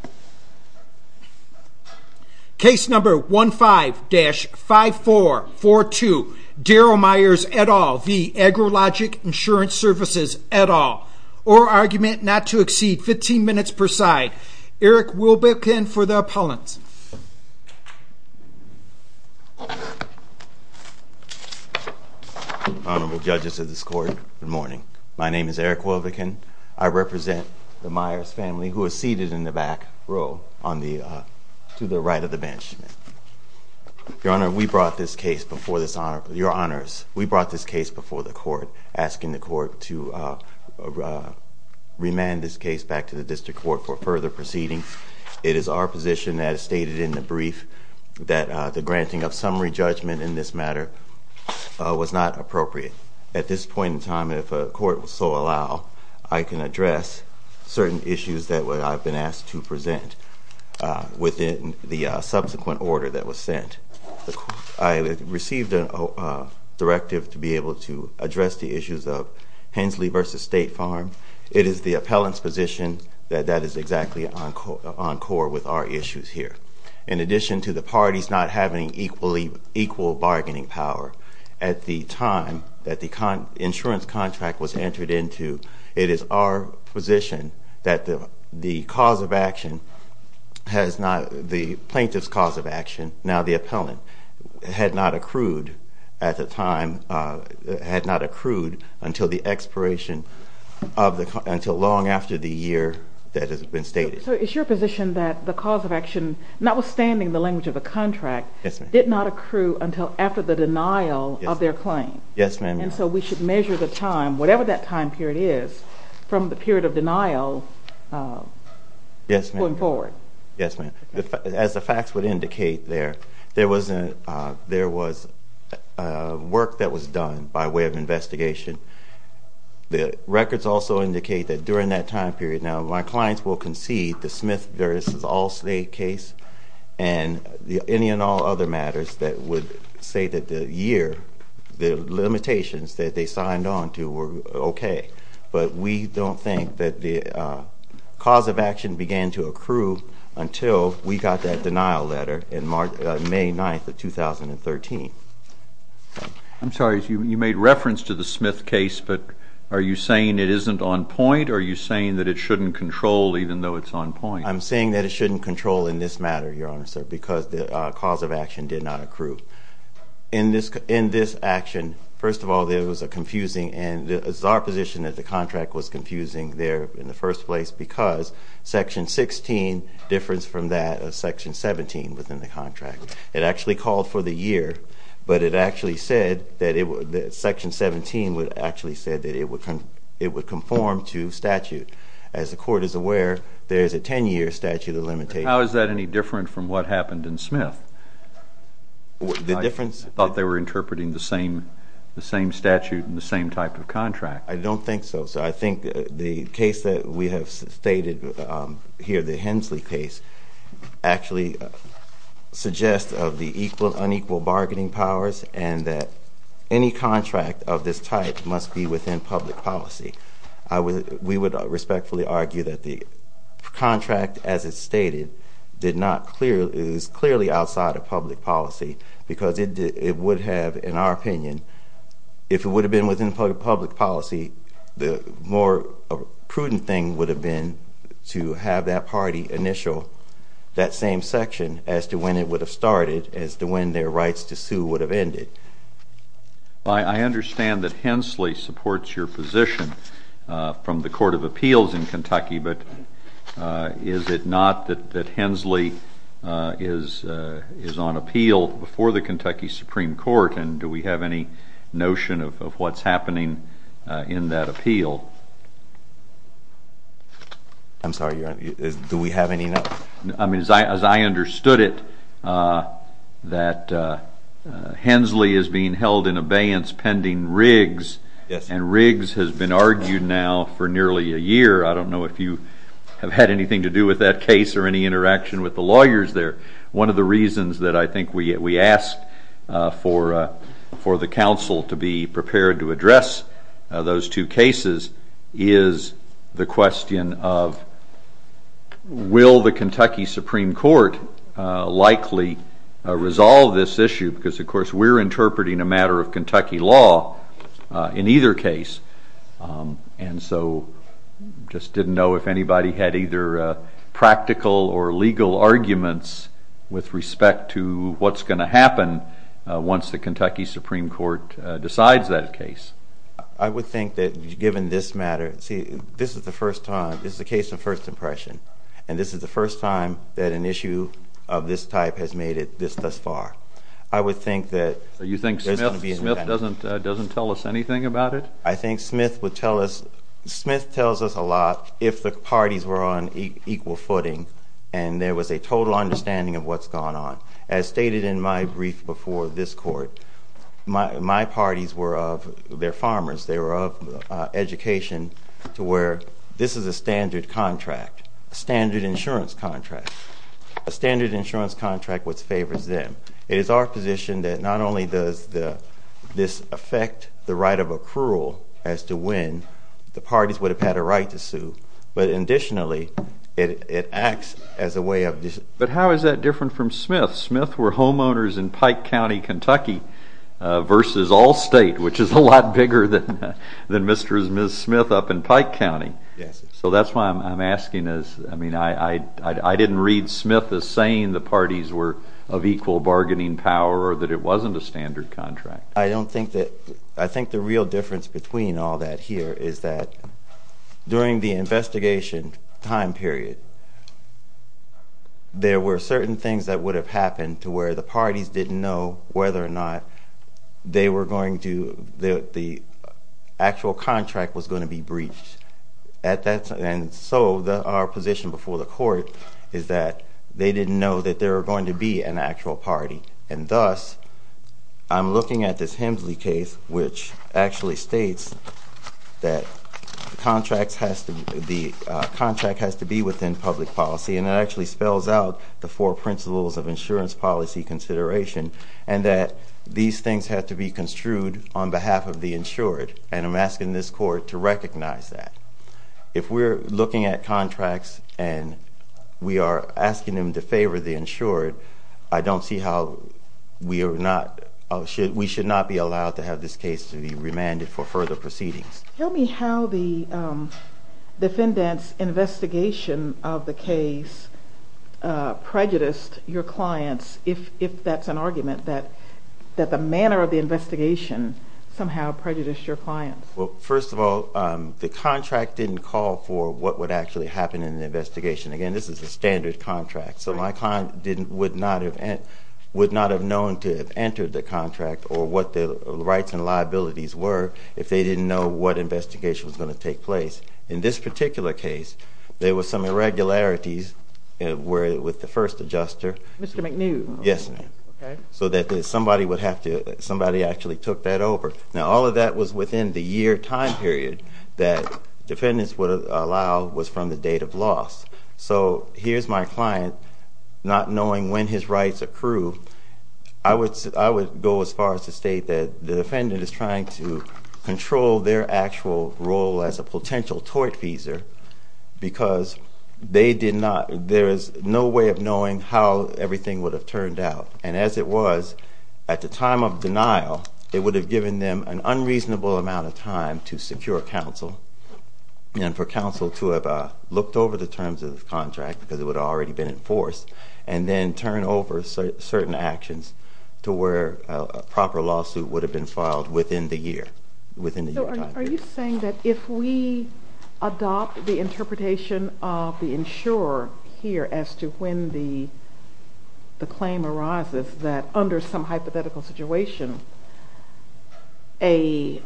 at all, or argument not to exceed 15 minutes per side. Eric Wilbekin for the appellant. Honorable judges of this court, good morning. My name is Eric Wilbekin. I represent the Myers family, who is seated in the back, and I'm here to speak on behalf of the district court to the right of the bench. Your Honor, we brought this case before the court, asking the court to remand this case back to the district court for further proceedings. It is our position that is stated in the brief that the granting of summary judgment in this matter was not appropriate. At this point in time, if the court would so allow, I can address certain issues that I've been asked to present. Within the subsequent order that was sent, I received a directive to be able to address the issues of Hensley v. State Farm. It is the appellant's position that that is exactly on core with our issues here. In addition to the parties not having equal bargaining power, at the time that the insurance contract was entered into, it is our position that the cause of action for this case was not appropriate. The plaintiff's cause of action, now the appellant, had not accrued at the time, had not accrued until the expiration of the, until long after the year that has been stated. So it's your position that the cause of action, notwithstanding the language of the contract, did not accrue until after the denial of their claim? Yes, ma'am. And so we should measure the time, whatever that time period is, from the period of denial to enforcement. Yes, ma'am. As the facts would indicate there, there was work that was done by way of investigation. The records also indicate that during that time period, now my clients will concede the Smith v. Allstate case and any and all other matters that would say that the year, the limitations that they signed on to were okay. But we don't think that the cause of action began to accrue until we got that denial letter in May 9th of 2013. I'm sorry, you made reference to the Smith case, but are you saying it isn't on point, or are you saying that it shouldn't control even though it's on point? I'm saying that it shouldn't control in this matter, Your Honor, sir, because the cause of action did not accrue. In this action, first of all, there was a confusing and it's our position that the contract was confusing there in the first place because Section 16 differs from that of Section 17 within the contract. It actually called for the year, but it actually said that Section 17 would conform to statute. As the Court is aware, there is a 10-year statute of limitations. How is that any different from what happened in Smith? I thought they were interpreting the same statute and the same type of contract. I don't think so, sir. I think the case that we have stated here, the Hensley case, actually suggests of the equal and unequal bargaining powers and that any contract of this type must be within public policy. We would respectfully argue that the contract as it's stated is clearly outside of public policy because it would have, in our opinion, if it would have been within public policy, the more prudent thing would have been to have that party initial that same section as to when it would have started, as to when their rights to sue would have ended. I understand that Hensley supports your position from the Court of Appeals in Kentucky, but is it not that Hensley is on appeal before the Kentucky Supreme Court and do we have any notion of what's happening in that appeal? I'm sorry, do we have any notion? I mean, as I understood it, that Hensley is being held in abeyance pending Riggs and Riggs has been argued now for nearly a year. I don't know if you have had anything to do with that case or any interaction with the lawyers there. One of the reasons that I think we asked for the counsel to be prepared to address those two cases is the question of will the Kentucky Supreme Court likely resolve this issue because, of course, we're interpreting a matter of Kentucky law in either case. And so just didn't know if anybody had either practical or legal arguments with respect to what's going to happen once the Kentucky Supreme Court decides that case. I would think that given this matter, see, this is the first time, this is a case of first impression, and this is the first time that an issue of this type has made it this thus far. I would think that there's going to be an event. Doesn't tell us anything about it? I think Smith would tell us, Smith tells us a lot if the parties were on equal footing and there was a total understanding of what's going on. As stated in my brief before this court, my parties were of, they're farmers, they were of education to where this is a standard contract, a standard insurance contract. A standard insurance contract which favors them. It is our position that not only does this affect the right of accrual as to when the parties would have had a right to sue, but additionally, it acts as a way of... But how is that different from Smith? Smith were homeowners in Pike County, Kentucky versus Allstate, which is a lot bigger than Mr. and Ms. Smith up in Pike County. Yes. So that's why I'm asking is, I mean, I didn't read Smith as saying the parties were of equal bargaining power or that it wasn't a standard contract. I don't think that, I think the real difference between all that here is that during the investigation time period, there were certain things that would have happened to where the parties didn't know whether or not they were going to, the actual contract was going to be breached. And so our position before the court is that they didn't know that there were going to be an actual party. And thus, I'm looking at this Hemsley case which actually states that the contract has to be within public policy, and it actually spells out the four principles of insurance policy consideration, and that these things have to be construed on behalf of the insured. And I'm asking this court to recognize that. If we're looking at contracts and we are asking them to favor the insured, I don't see how we are not, we should not be allowed to have this case to be remanded for further proceedings. Tell me how the defendant's investigation of the case prejudiced your clients, if that's an argument, that the manner of the investigation somehow prejudiced your clients. Well, first of all, the contract didn't call for what would actually happen in the investigation. Again, this is a standard contract, so my client would not have known to have entered the contract or what the rights and liabilities were if they didn't know what investigation was going to take place. In this particular case, there were some irregularities with the first adjuster. Mr. McNew? Yes, ma'am. Okay. The first adjustment is somebody would have to, somebody actually took that over. Now, all of that was within the year time period that defendants would allow was from the date of loss. So here's my client, not knowing when his rights accrue. I would go as far as to state that the defendant is trying to control their actual role as a potential tortfeasor because they did not, there is no way of knowing how everything would have turned out. And as it was, at the time of denial, it would have given them an unreasonable amount of time to secure counsel and for counsel to have looked over the terms of the contract, because it would have already been enforced, and then turn over certain actions to where a proper lawsuit would have been filed within the year, within the year time period. Are you saying that if we adopt the interpretation of the insurer here as to when the claim arises, that under some hypothetical situation, a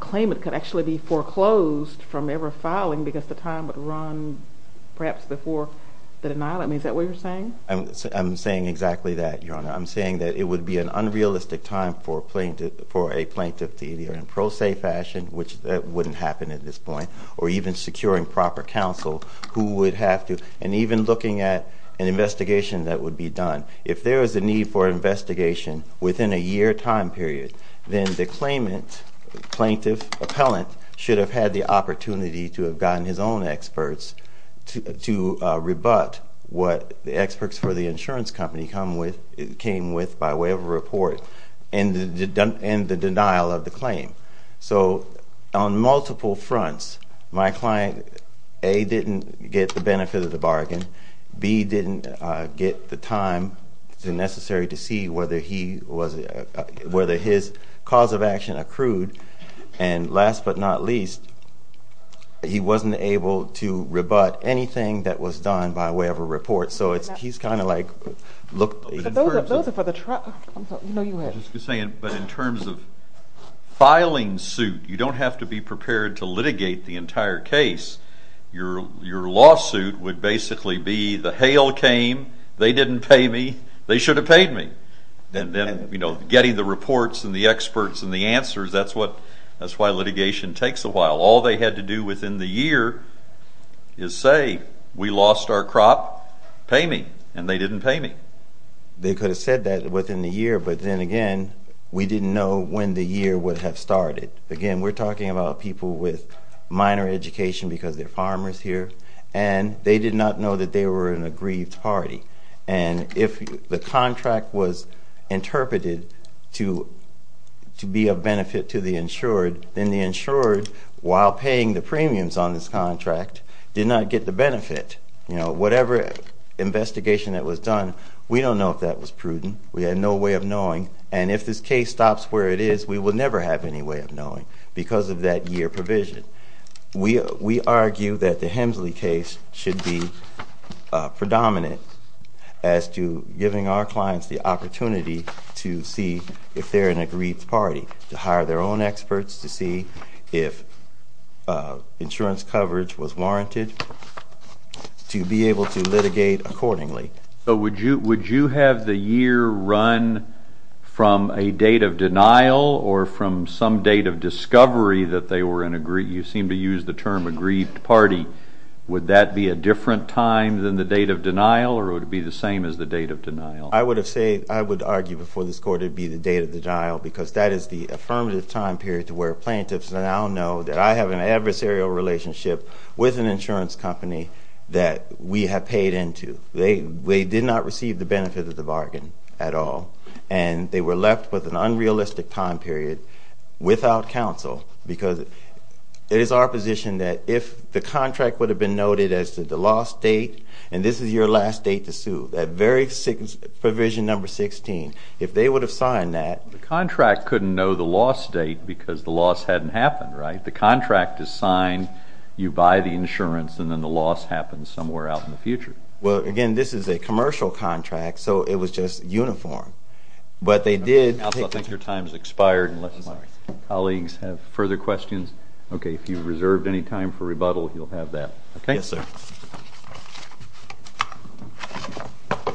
claimant could actually be foreclosed from ever filing because the time would run perhaps before the denial? I mean, is that what you're saying? I'm saying exactly that, Your Honor. I'm saying that it would be an unrealistic time for a plaintiff to either in pro se fashion, which that wouldn't happen at this point, or even securing proper counsel who would have to, and even looking at an investigation that would be done. If there is a need for investigation within a year time period, then the claimant, plaintiff, appellant, should have had the opportunity to have gotten his own experts to rebut what the experts for the insurance company came with by way of a report and the denial of the claim. So on multiple fronts, my client, A, didn't get the benefit of the bargain, B, didn't get the time necessary to see whether his cause of action accrued, and last but not least, he wasn't able to rebut anything that was done by way of a report. So he's kind of like – Those are for the – you know you had – But in terms of filing suit, you don't have to be prepared to litigate the entire case. Your lawsuit would basically be, the hail came, they didn't pay me, they should have paid me. And then, you know, getting the reports and the experts and the answers, that's why litigation takes a while. All they had to do within the year is say, we lost our crop, pay me, and they didn't pay me. They could have said that within the year, but then again, we didn't know when the year would have started. Again, we're talking about people with minor education because they're farmers here, and they did not know that they were in a grieved party. And if the contract was interpreted to be of benefit to the insured, then the insured, while paying the premiums on this contract, did not get the benefit. You know, whatever investigation that was done, we don't know if that was prudent. We had no way of knowing. And if this case stops where it is, we will never have any way of knowing because of that year provision. We argue that the Hemsley case should be predominant as to giving our clients the opportunity to see if they're in a grieved party, to hire their own experts, to see if insurance coverage was warranted, to be able to litigate accordingly. But would you have the year run from a date of denial or from some date of discovery that they were in a grieved, you seem to use the term a grieved party. Would that be a different time than the date of denial, or would it be the same as the date of denial? I would argue before this court it would be the date of denial because that is the affirmative time period to where plaintiffs now know that I have an adversarial relationship with an insurance company that we have paid into. They did not receive the benefit of the bargain at all, and they were left with an unrealistic time period without counsel because it is our position that if the contract would have been noted as the lost date and this is your last date to sue, that very provision number 16, if they would have signed that... The contract couldn't know the lost date because the loss hadn't happened, right? The contract is signed, you buy the insurance, and then the loss happens somewhere out in the future. Well, again, this is a commercial contract, so it was just uniform. But they did... I don't think your time has expired unless my colleagues have further questions. Okay, if you reserved any time for rebuttal, you'll have that. Yes, sir. Thank you.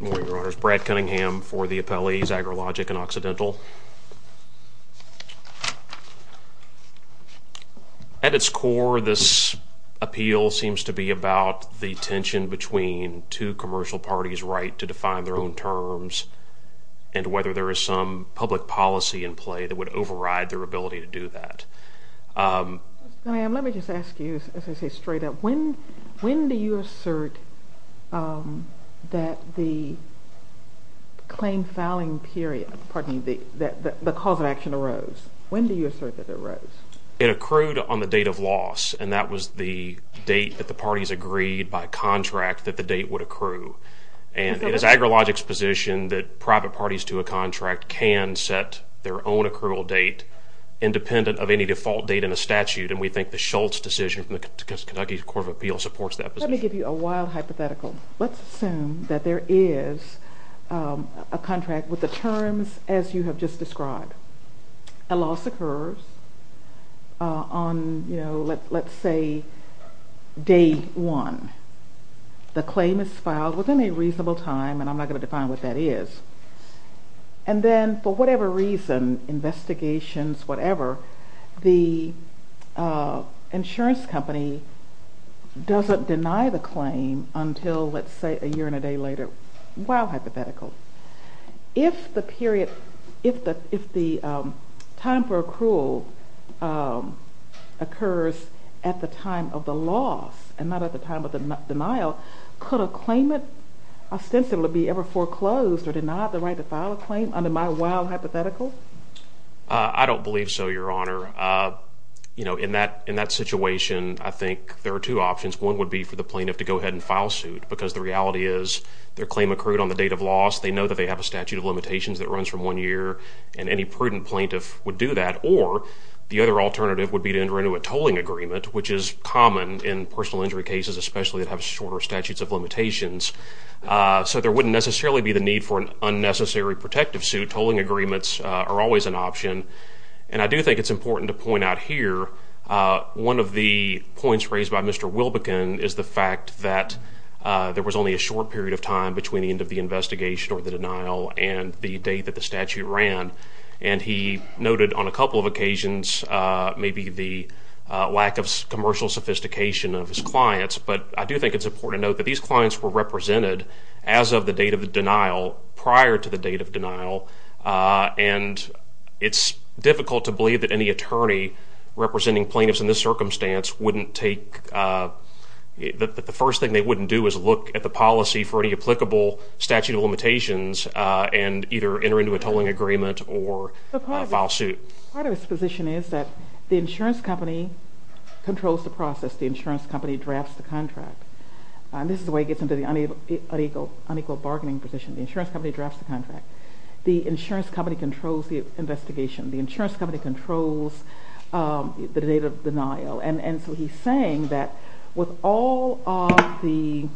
Good morning, Your Honors. Brad Cunningham for the appellees, Agrilogic and Occidental. At its core, this appeal seems to be about the tension between two commercial parties' right to define their own terms and whether there is some public policy in play that would override their ability to do that. Mr. Cunningham, let me just ask you, as I say straight up, when do you assert that the claim filing period, pardon me, that the cause of action arose? When do you assert that it arose? It accrued on the date of loss, and that was the date that the parties agreed by contract that the date would accrue. And it is Agrilogic's position that private parties to a contract can set their own accrual date independent of any default date in a statute, and we think the Schultz decision from the Kentucky Court of Appeal supports that position. Let me give you a wild hypothetical. Let's assume that there is a contract with the terms as you have just described. A loss occurs on, you know, let's say day one. The claim is filed within a reasonable time, and I'm not going to define what that is. And then for whatever reason, investigations, whatever, the insurance company doesn't deny the claim until, let's say, a year and a day later. Wild hypothetical. If the period, if the time for accrual occurs at the time of the loss and not at the time of the denial, could a claimant ostensibly be ever foreclosed or denied the right to file a claim under my wild hypothetical? I don't believe so, Your Honor. You know, in that situation, I think there are two options. One would be for the plaintiff to go ahead and file suit because the reality is their claim accrued on the date of loss. They know that they have a statute of limitations that runs from one year, and any prudent plaintiff would do that. Or the other alternative would be to enter into a tolling agreement, which is common in personal injury cases, especially that have shorter statutes of limitations. So there wouldn't necessarily be the need for an unnecessary protective suit. Tolling agreements are always an option. And I do think it's important to point out here, one of the points raised by Mr. Wilbekin is the fact that there was only a short period of time between the end of the investigation or the denial and the date that the statute ran. And he noted on a couple of occasions maybe the lack of commercial sophistication of his clients. But I do think it's important to note that these clients were represented as of the date of the denial prior to the date of denial. And it's difficult to believe that any attorney representing plaintiffs in this circumstance wouldn't take – the first thing they wouldn't do is look at the policy for any applicable statute of limitations and either enter into a tolling agreement or file suit. Part of his position is that the insurance company controls the process. The insurance company drafts the contract. This is the way it gets into the unequal bargaining position. The insurance company drafts the contract. The insurance company controls the investigation. The insurance company controls the date of denial. And so he's saying that with all of the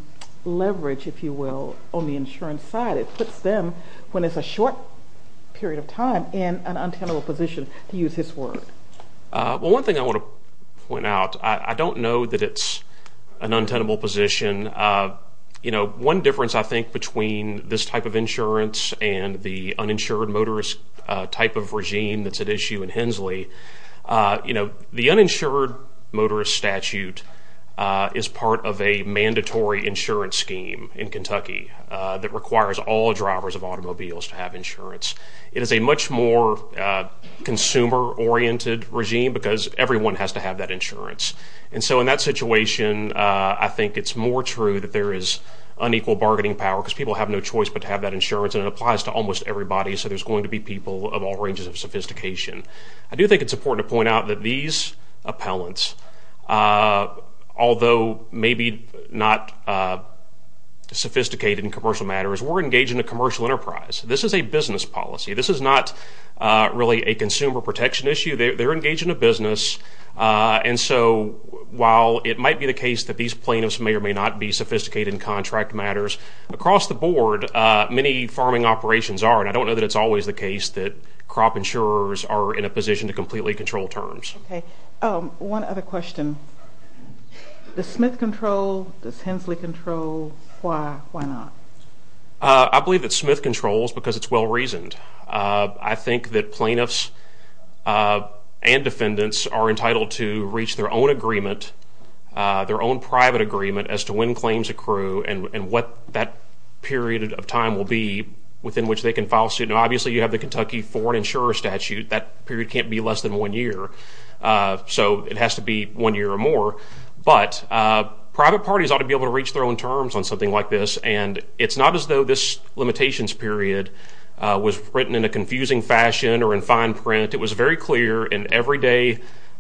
leverage, if you will, on the insurance side, it puts them, when it's a short period of time, in an untenable position, to use his word. Well, one thing I want to point out, I don't know that it's an untenable position. One difference, I think, between this type of insurance and the uninsured motorist type of regime that's at issue in Hensley, the uninsured motorist statute is part of a mandatory insurance scheme in Kentucky that requires all drivers of automobiles to have insurance. It is a much more consumer-oriented regime because everyone has to have that insurance. And so in that situation, I think it's more true that there is unequal bargaining power because people have no choice but to have that insurance, and it applies to almost everybody, so there's going to be people of all ranges of sophistication. I do think it's important to point out that these appellants, although maybe not sophisticated in commercial matters, were engaged in a commercial enterprise. This is a business policy. This is not really a consumer protection issue. They're engaged in a business. And so while it might be the case that these plaintiffs may or may not be sophisticated in contract matters, across the board, many farming operations are, and I don't know that it's always the case that crop insurers are in a position to completely control terms. Okay. One other question. Does Smith control? Does Hensley control? Why? Why not? I believe that Smith controls because it's well-reasoned. I think that plaintiffs and defendants are entitled to reach their own agreement, their own private agreement, as to when claims accrue and what that period of time will be within which they can file suit. Now, obviously, you have the Kentucky foreign insurer statute. That period can't be less than one year, so it has to be one year or more. But private parties ought to be able to reach their own terms on something like this, and it's not as though this limitations period was written in a confusing fashion or in fine print. It was very clear in everyday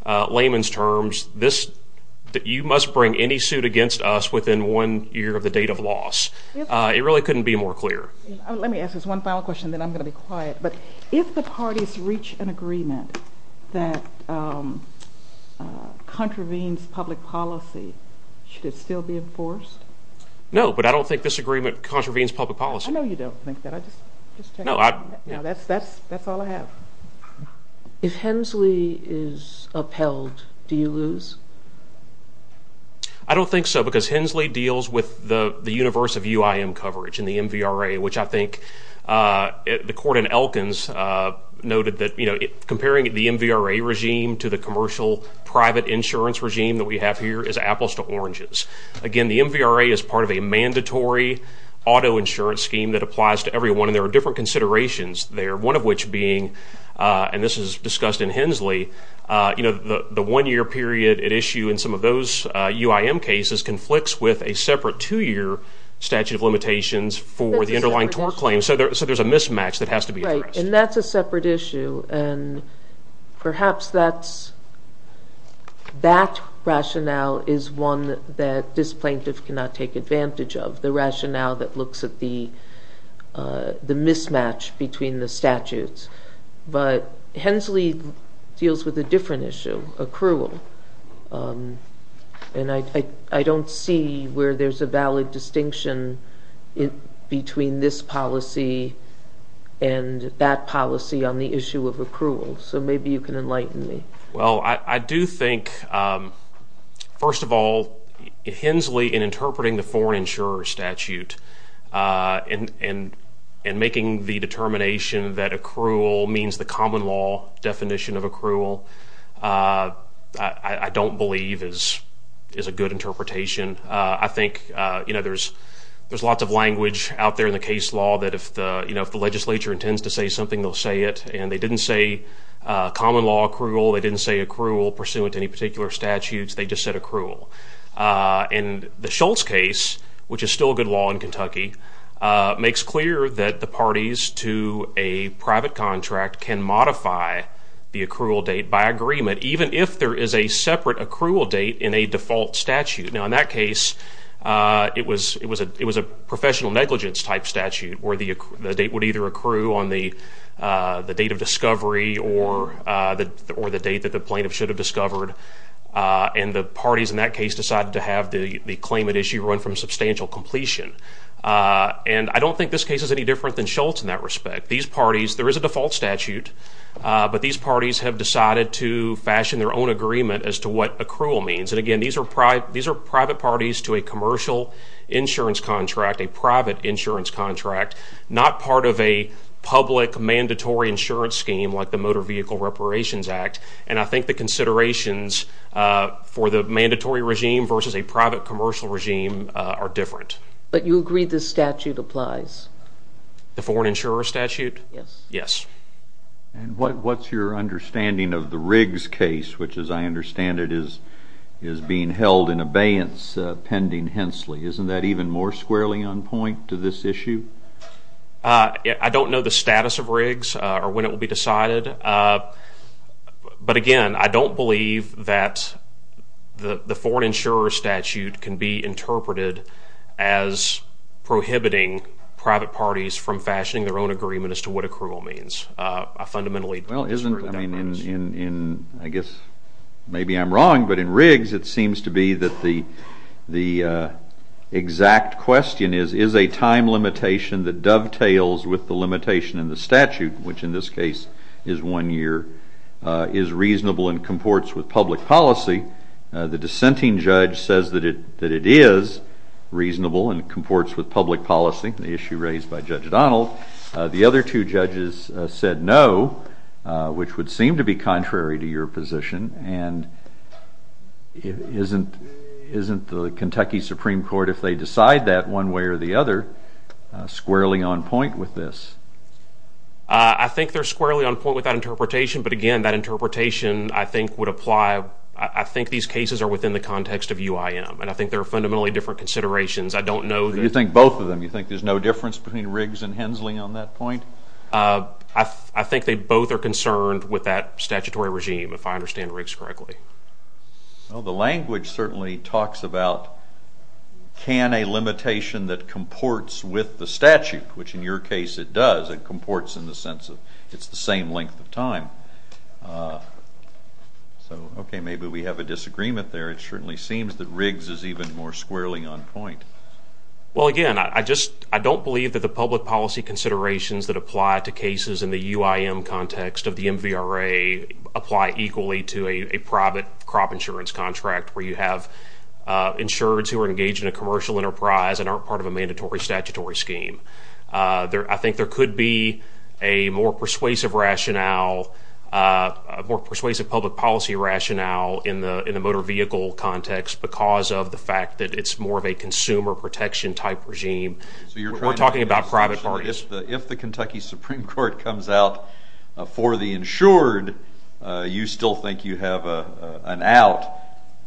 layman's terms that you must bring any suit against us within one year of the date of loss. It really couldn't be more clear. Let me ask this one final question, then I'm going to be quiet. But if the parties reach an agreement that contravenes public policy, should it still be enforced? No, but I don't think this agreement contravenes public policy. I know you don't think that. That's all I have. If Hensley is upheld, do you lose? I don't think so because Hensley deals with the universe of UIM coverage and the MVRA, which I think the court in Elkins noted that comparing the MVRA regime to the commercial private insurance regime that we have here is apples to oranges. Again, the MVRA is part of a mandatory auto insurance scheme that applies to everyone, and there are different considerations there, one of which being, and this is discussed in Hensley, the one-year period at issue in some of those UIM cases conflicts with a separate two-year statute of limitations for the underlying tort claim, so there's a mismatch that has to be addressed. Right, and that's a separate issue, and perhaps that rationale is one that this plaintiff cannot take advantage of, the rationale that looks at the mismatch between the statutes, but Hensley deals with a different issue, accrual, and I don't see where there's a valid distinction between this policy and that policy on the issue of accrual, so maybe you can enlighten me. Well, I do think, first of all, Hensley in interpreting the foreign insurer statute and making the determination that accrual means the common law definition of accrual, I don't believe is a good interpretation. I think there's lots of language out there in the case law that if the legislature intends to say something, they'll say it, and they didn't say common law accrual, they didn't say accrual pursuant to any particular statutes, they just said accrual, and the Schultz case, which is still good law in Kentucky, makes clear that the parties to a private contract can modify the accrual date by agreement, even if there is a separate accrual date in a default statute. Now, in that case, it was a professional negligence type statute where the date would either accrue on the date of discovery or the date that the plaintiff should have discovered, and the parties in that case decided to have the claimant issue run from substantial completion, and I don't think this case is any different than Schultz in that respect. These parties, there is a default statute, but these parties have decided to fashion their own agreement as to what accrual means, and again, these are private parties to a commercial insurance contract, a private insurance contract, not part of a public mandatory insurance scheme like the Motor Vehicle Reparations Act, and I think the considerations for the mandatory regime versus a private commercial regime are different. But you agree this statute applies? The foreign insurer statute? Yes. Yes. And what's your understanding of the Riggs case, which as I understand it is being held in abeyance pending Hensley? Isn't that even more squarely on point to this issue? I don't know the status of Riggs or when it will be decided, but again, I don't believe that the foreign insurer statute can be interpreted as prohibiting private parties from fashioning their own agreement as to what accrual means. I fundamentally disagree with that. Well, in, I guess maybe I'm wrong, but in Riggs it seems to be that the exact question is, is a time limitation that dovetails with the limitation in the statute, which in this case is one year, is reasonable and comports with public policy. The dissenting judge says that it is reasonable and comports with public policy, the issue raised by Judge Donald. The other two judges said no, which would seem to be contrary to your position, and isn't the Kentucky Supreme Court, if they decide that one way or the other, squarely on point with this? That's a good question, but again, that interpretation, I think, would apply, I think these cases are within the context of UIM, and I think there are fundamentally different considerations. I don't know. You think both of them? You think there's no difference between Riggs and Hensley on that point? I think they both are concerned with that statutory regime, if I understand Riggs correctly. Well, the language certainly talks about can a limitation that comports with the statute, which in your case it does, it comports in the sense of it's the same length of time. So, okay, maybe we have a disagreement there. It certainly seems that Riggs is even more squarely on point. Well, again, I don't believe that the public policy considerations that apply to cases in the UIM context of the MVRA apply equally to a private crop insurance contract where you have insureds who are engaged in a commercial enterprise and aren't part of a mandatory statutory scheme. I think there could be a more persuasive rationale, a more persuasive public policy rationale in the motor vehicle context because of the fact that it's more of a consumer protection type regime. We're talking about private parties. If the Kentucky Supreme Court comes out for the insured, you still think you have an out,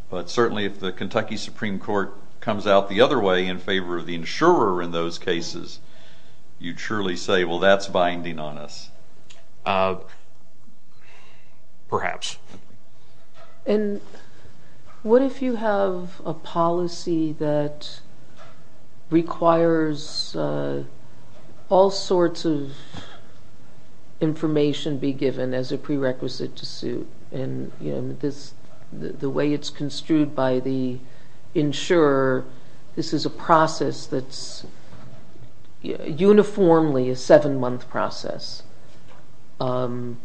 but certainly if the Kentucky Supreme Court comes out the other way in favor of the insurer in those cases, you'd surely say, well, that's binding on us. Perhaps. And what if you have a policy that requires all sorts of information be given as a prerequisite to suit? And the way it's construed by the insurer, this is a process that's uniformly a seven-month process. And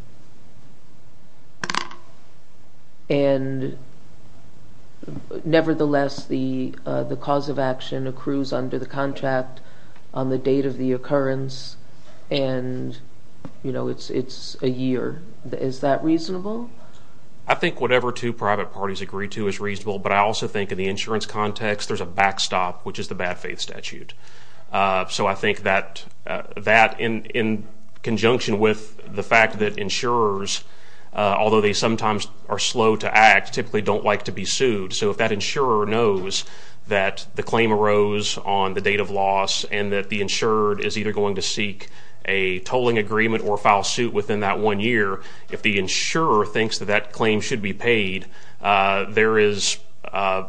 nevertheless, the cause of action accrues under the contract on the date of the occurrence, and, you know, it's a year. Is that reasonable? I think whatever two private parties agree to is reasonable, but I also think in the insurance context there's a backstop, which is the bad faith statute. So I think that in conjunction with the fact that insurers, although they sometimes are slow to act, typically don't like to be sued. So if that insurer knows that the claim arose on the date of loss and that the insurer is either going to seek a tolling agreement or file suit within that one year, if the insurer thinks that that claim should be paid, there is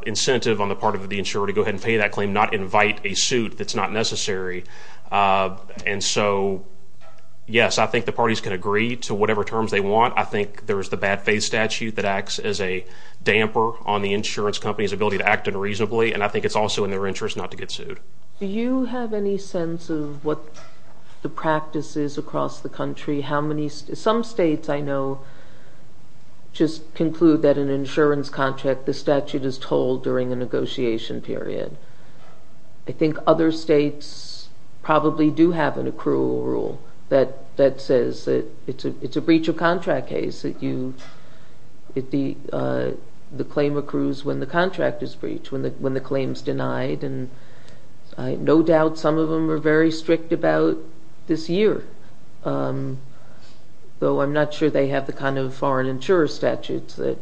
incentive on the part of the insurer to go ahead and pay that claim, not invite a suit that's not necessary. And so, yes, I think the parties can agree to whatever terms they want. I think there is the bad faith statute that acts as a damper on the insurance company's ability to act unreasonably, and I think it's also in their interest not to get sued. Do you have any sense of what the practice is across the country? Some states, I know, just conclude that an insurance contract, the statute is tolled during a negotiation period. I think other states probably do have an accrual rule that says it's a breach of contract case, that the claim accrues when the contract is breached, when the claim is denied, and I have no doubt some of them are very strict about this year, though I'm not sure they have the kind of foreign insurer statutes that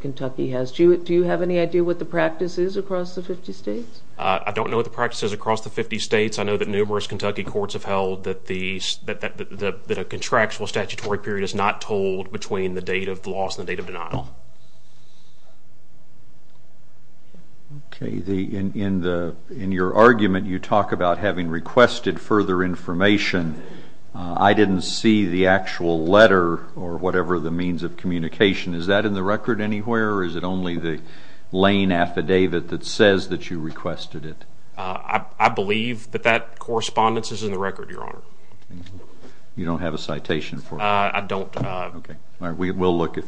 Kentucky has. Do you have any idea what the practice is across the 50 states? I don't know what the practice is across the 50 states. I know that numerous Kentucky courts have held that a contractual statutory period is not tolled between the date of the loss and the date of denial. In your argument, you talk about having requested further information. I didn't see the actual letter or whatever the means of communication. Is that in the record anywhere, or is it only the lane affidavit that says that you requested it? I believe that that correspondence is in the record, Your Honor. You don't have a citation for it? I don't. Okay. We'll look if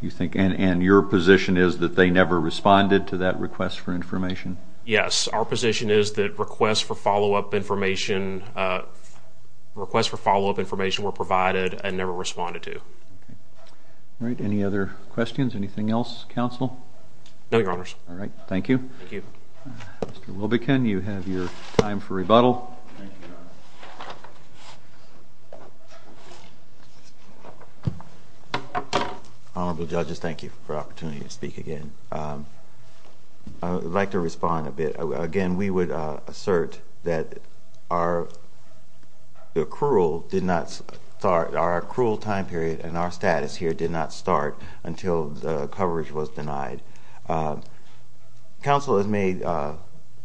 you think. And your position is that they never responded to that request for information? Yes. Our position is that requests for follow-up information were provided and never responded to. All right. Any other questions? Anything else, counsel? No, Your Honors. All right. Thank you. Mr. Wilbekin, you have your time for rebuttal. Thank you, Your Honor. Honorable judges, thank you for the opportunity to speak again. I would like to respond a bit. Again, we would assert that our accrual time period and our status here did not start until the coverage was denied. Counsel has made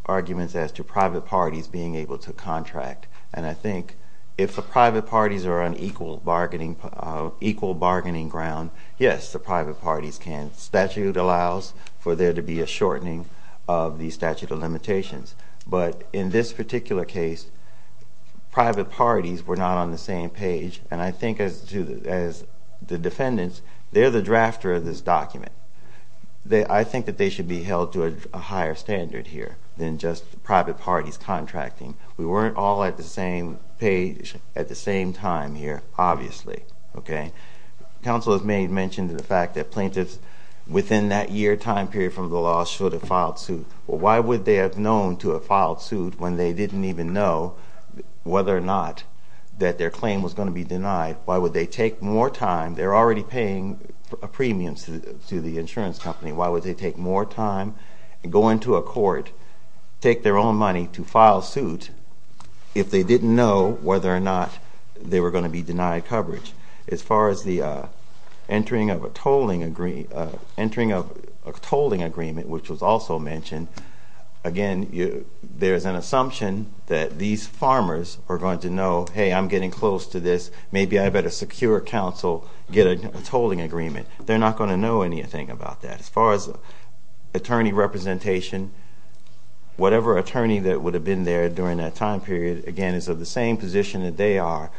arguments as to private parties being able to contract. And I think if the private parties are on equal bargaining ground, yes, the private parties can. Statute allows for there to be a shortening of the statute of limitations. But in this particular case, private parties were not on the same page. And I think as the defendants, they're the drafter of this document. I think that they should be held to a higher standard here than just private parties contracting. We weren't all at the same page at the same time here, obviously. Okay? Counsel has made mention of the fact that plaintiffs within that year time period from the law should have filed suit. Well, why would they have known to have filed suit when they didn't even know whether or not that their claim was going to be denied? Why would they take more time? They're already paying a premium to the insurance company. Why would they take more time and go into a court, take their own money to file suit, if they didn't know whether or not they were going to be denied coverage? As far as the entering of a tolling agreement, which was also mentioned, again, there's an assumption that these farmers are going to know, hey, I'm getting close to this. Maybe I better secure counsel, get a tolling agreement. They're not going to know anything about that. As far as attorney representation, whatever attorney that would have been there during that time period, again, is of the same position that they are.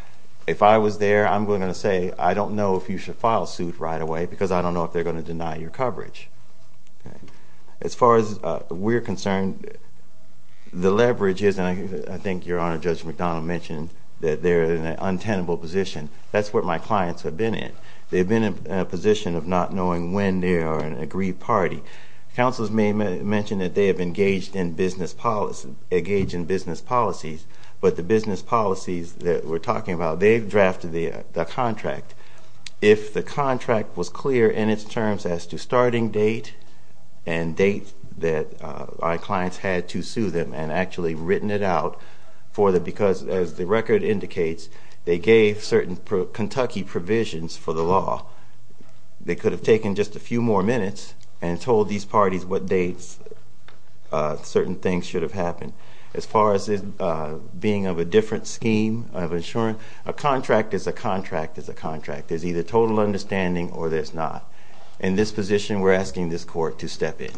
If I was there, I'm going to say, I don't know if you should file suit right away because I don't know if they're going to deny your coverage. As far as we're concerned, the leverage is, and I think your Honor, Judge McDonald mentioned that they're in an untenable position. That's what my clients have been in. They've been in a position of not knowing when they are an agreed party. Counselors may mention that they have engaged in business policies, but the business policies that we're talking about, they've drafted the contract. If the contract was clear in its terms as to starting date and date that our clients had to sue them and actually written it out for them because, as the record indicates, they gave certain Kentucky provisions for the law, they could have taken just a few more minutes and told these parties what dates certain things should have happened. As far as being of a different scheme of insurance, a contract is a contract is a contract. There's either total understanding or there's not. In this position, we're asking this court to step in.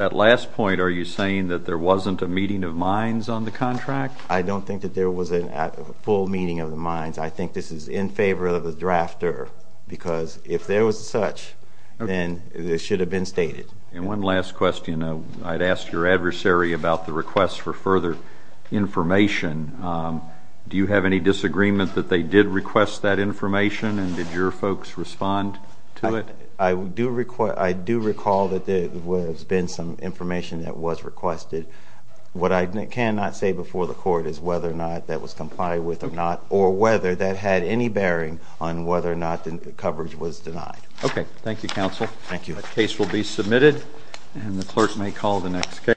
At last point, are you saying that there wasn't a meeting of minds on the contract? I don't think that there was a full meeting of the minds. I think this is in favor of the drafter because if there was such, then it should have been stated. One last question. I'd ask your adversary about the request for further information. Do you have any disagreement that they did request that information, and did your folks respond to it? I do recall that there has been some information that was requested. What I cannot say before the court is whether or not that was complied with or not or whether that had any bearing on whether or not the coverage was denied. Okay. Thank you, counsel. Thank you. The case will be submitted, and the clerk may call the next case.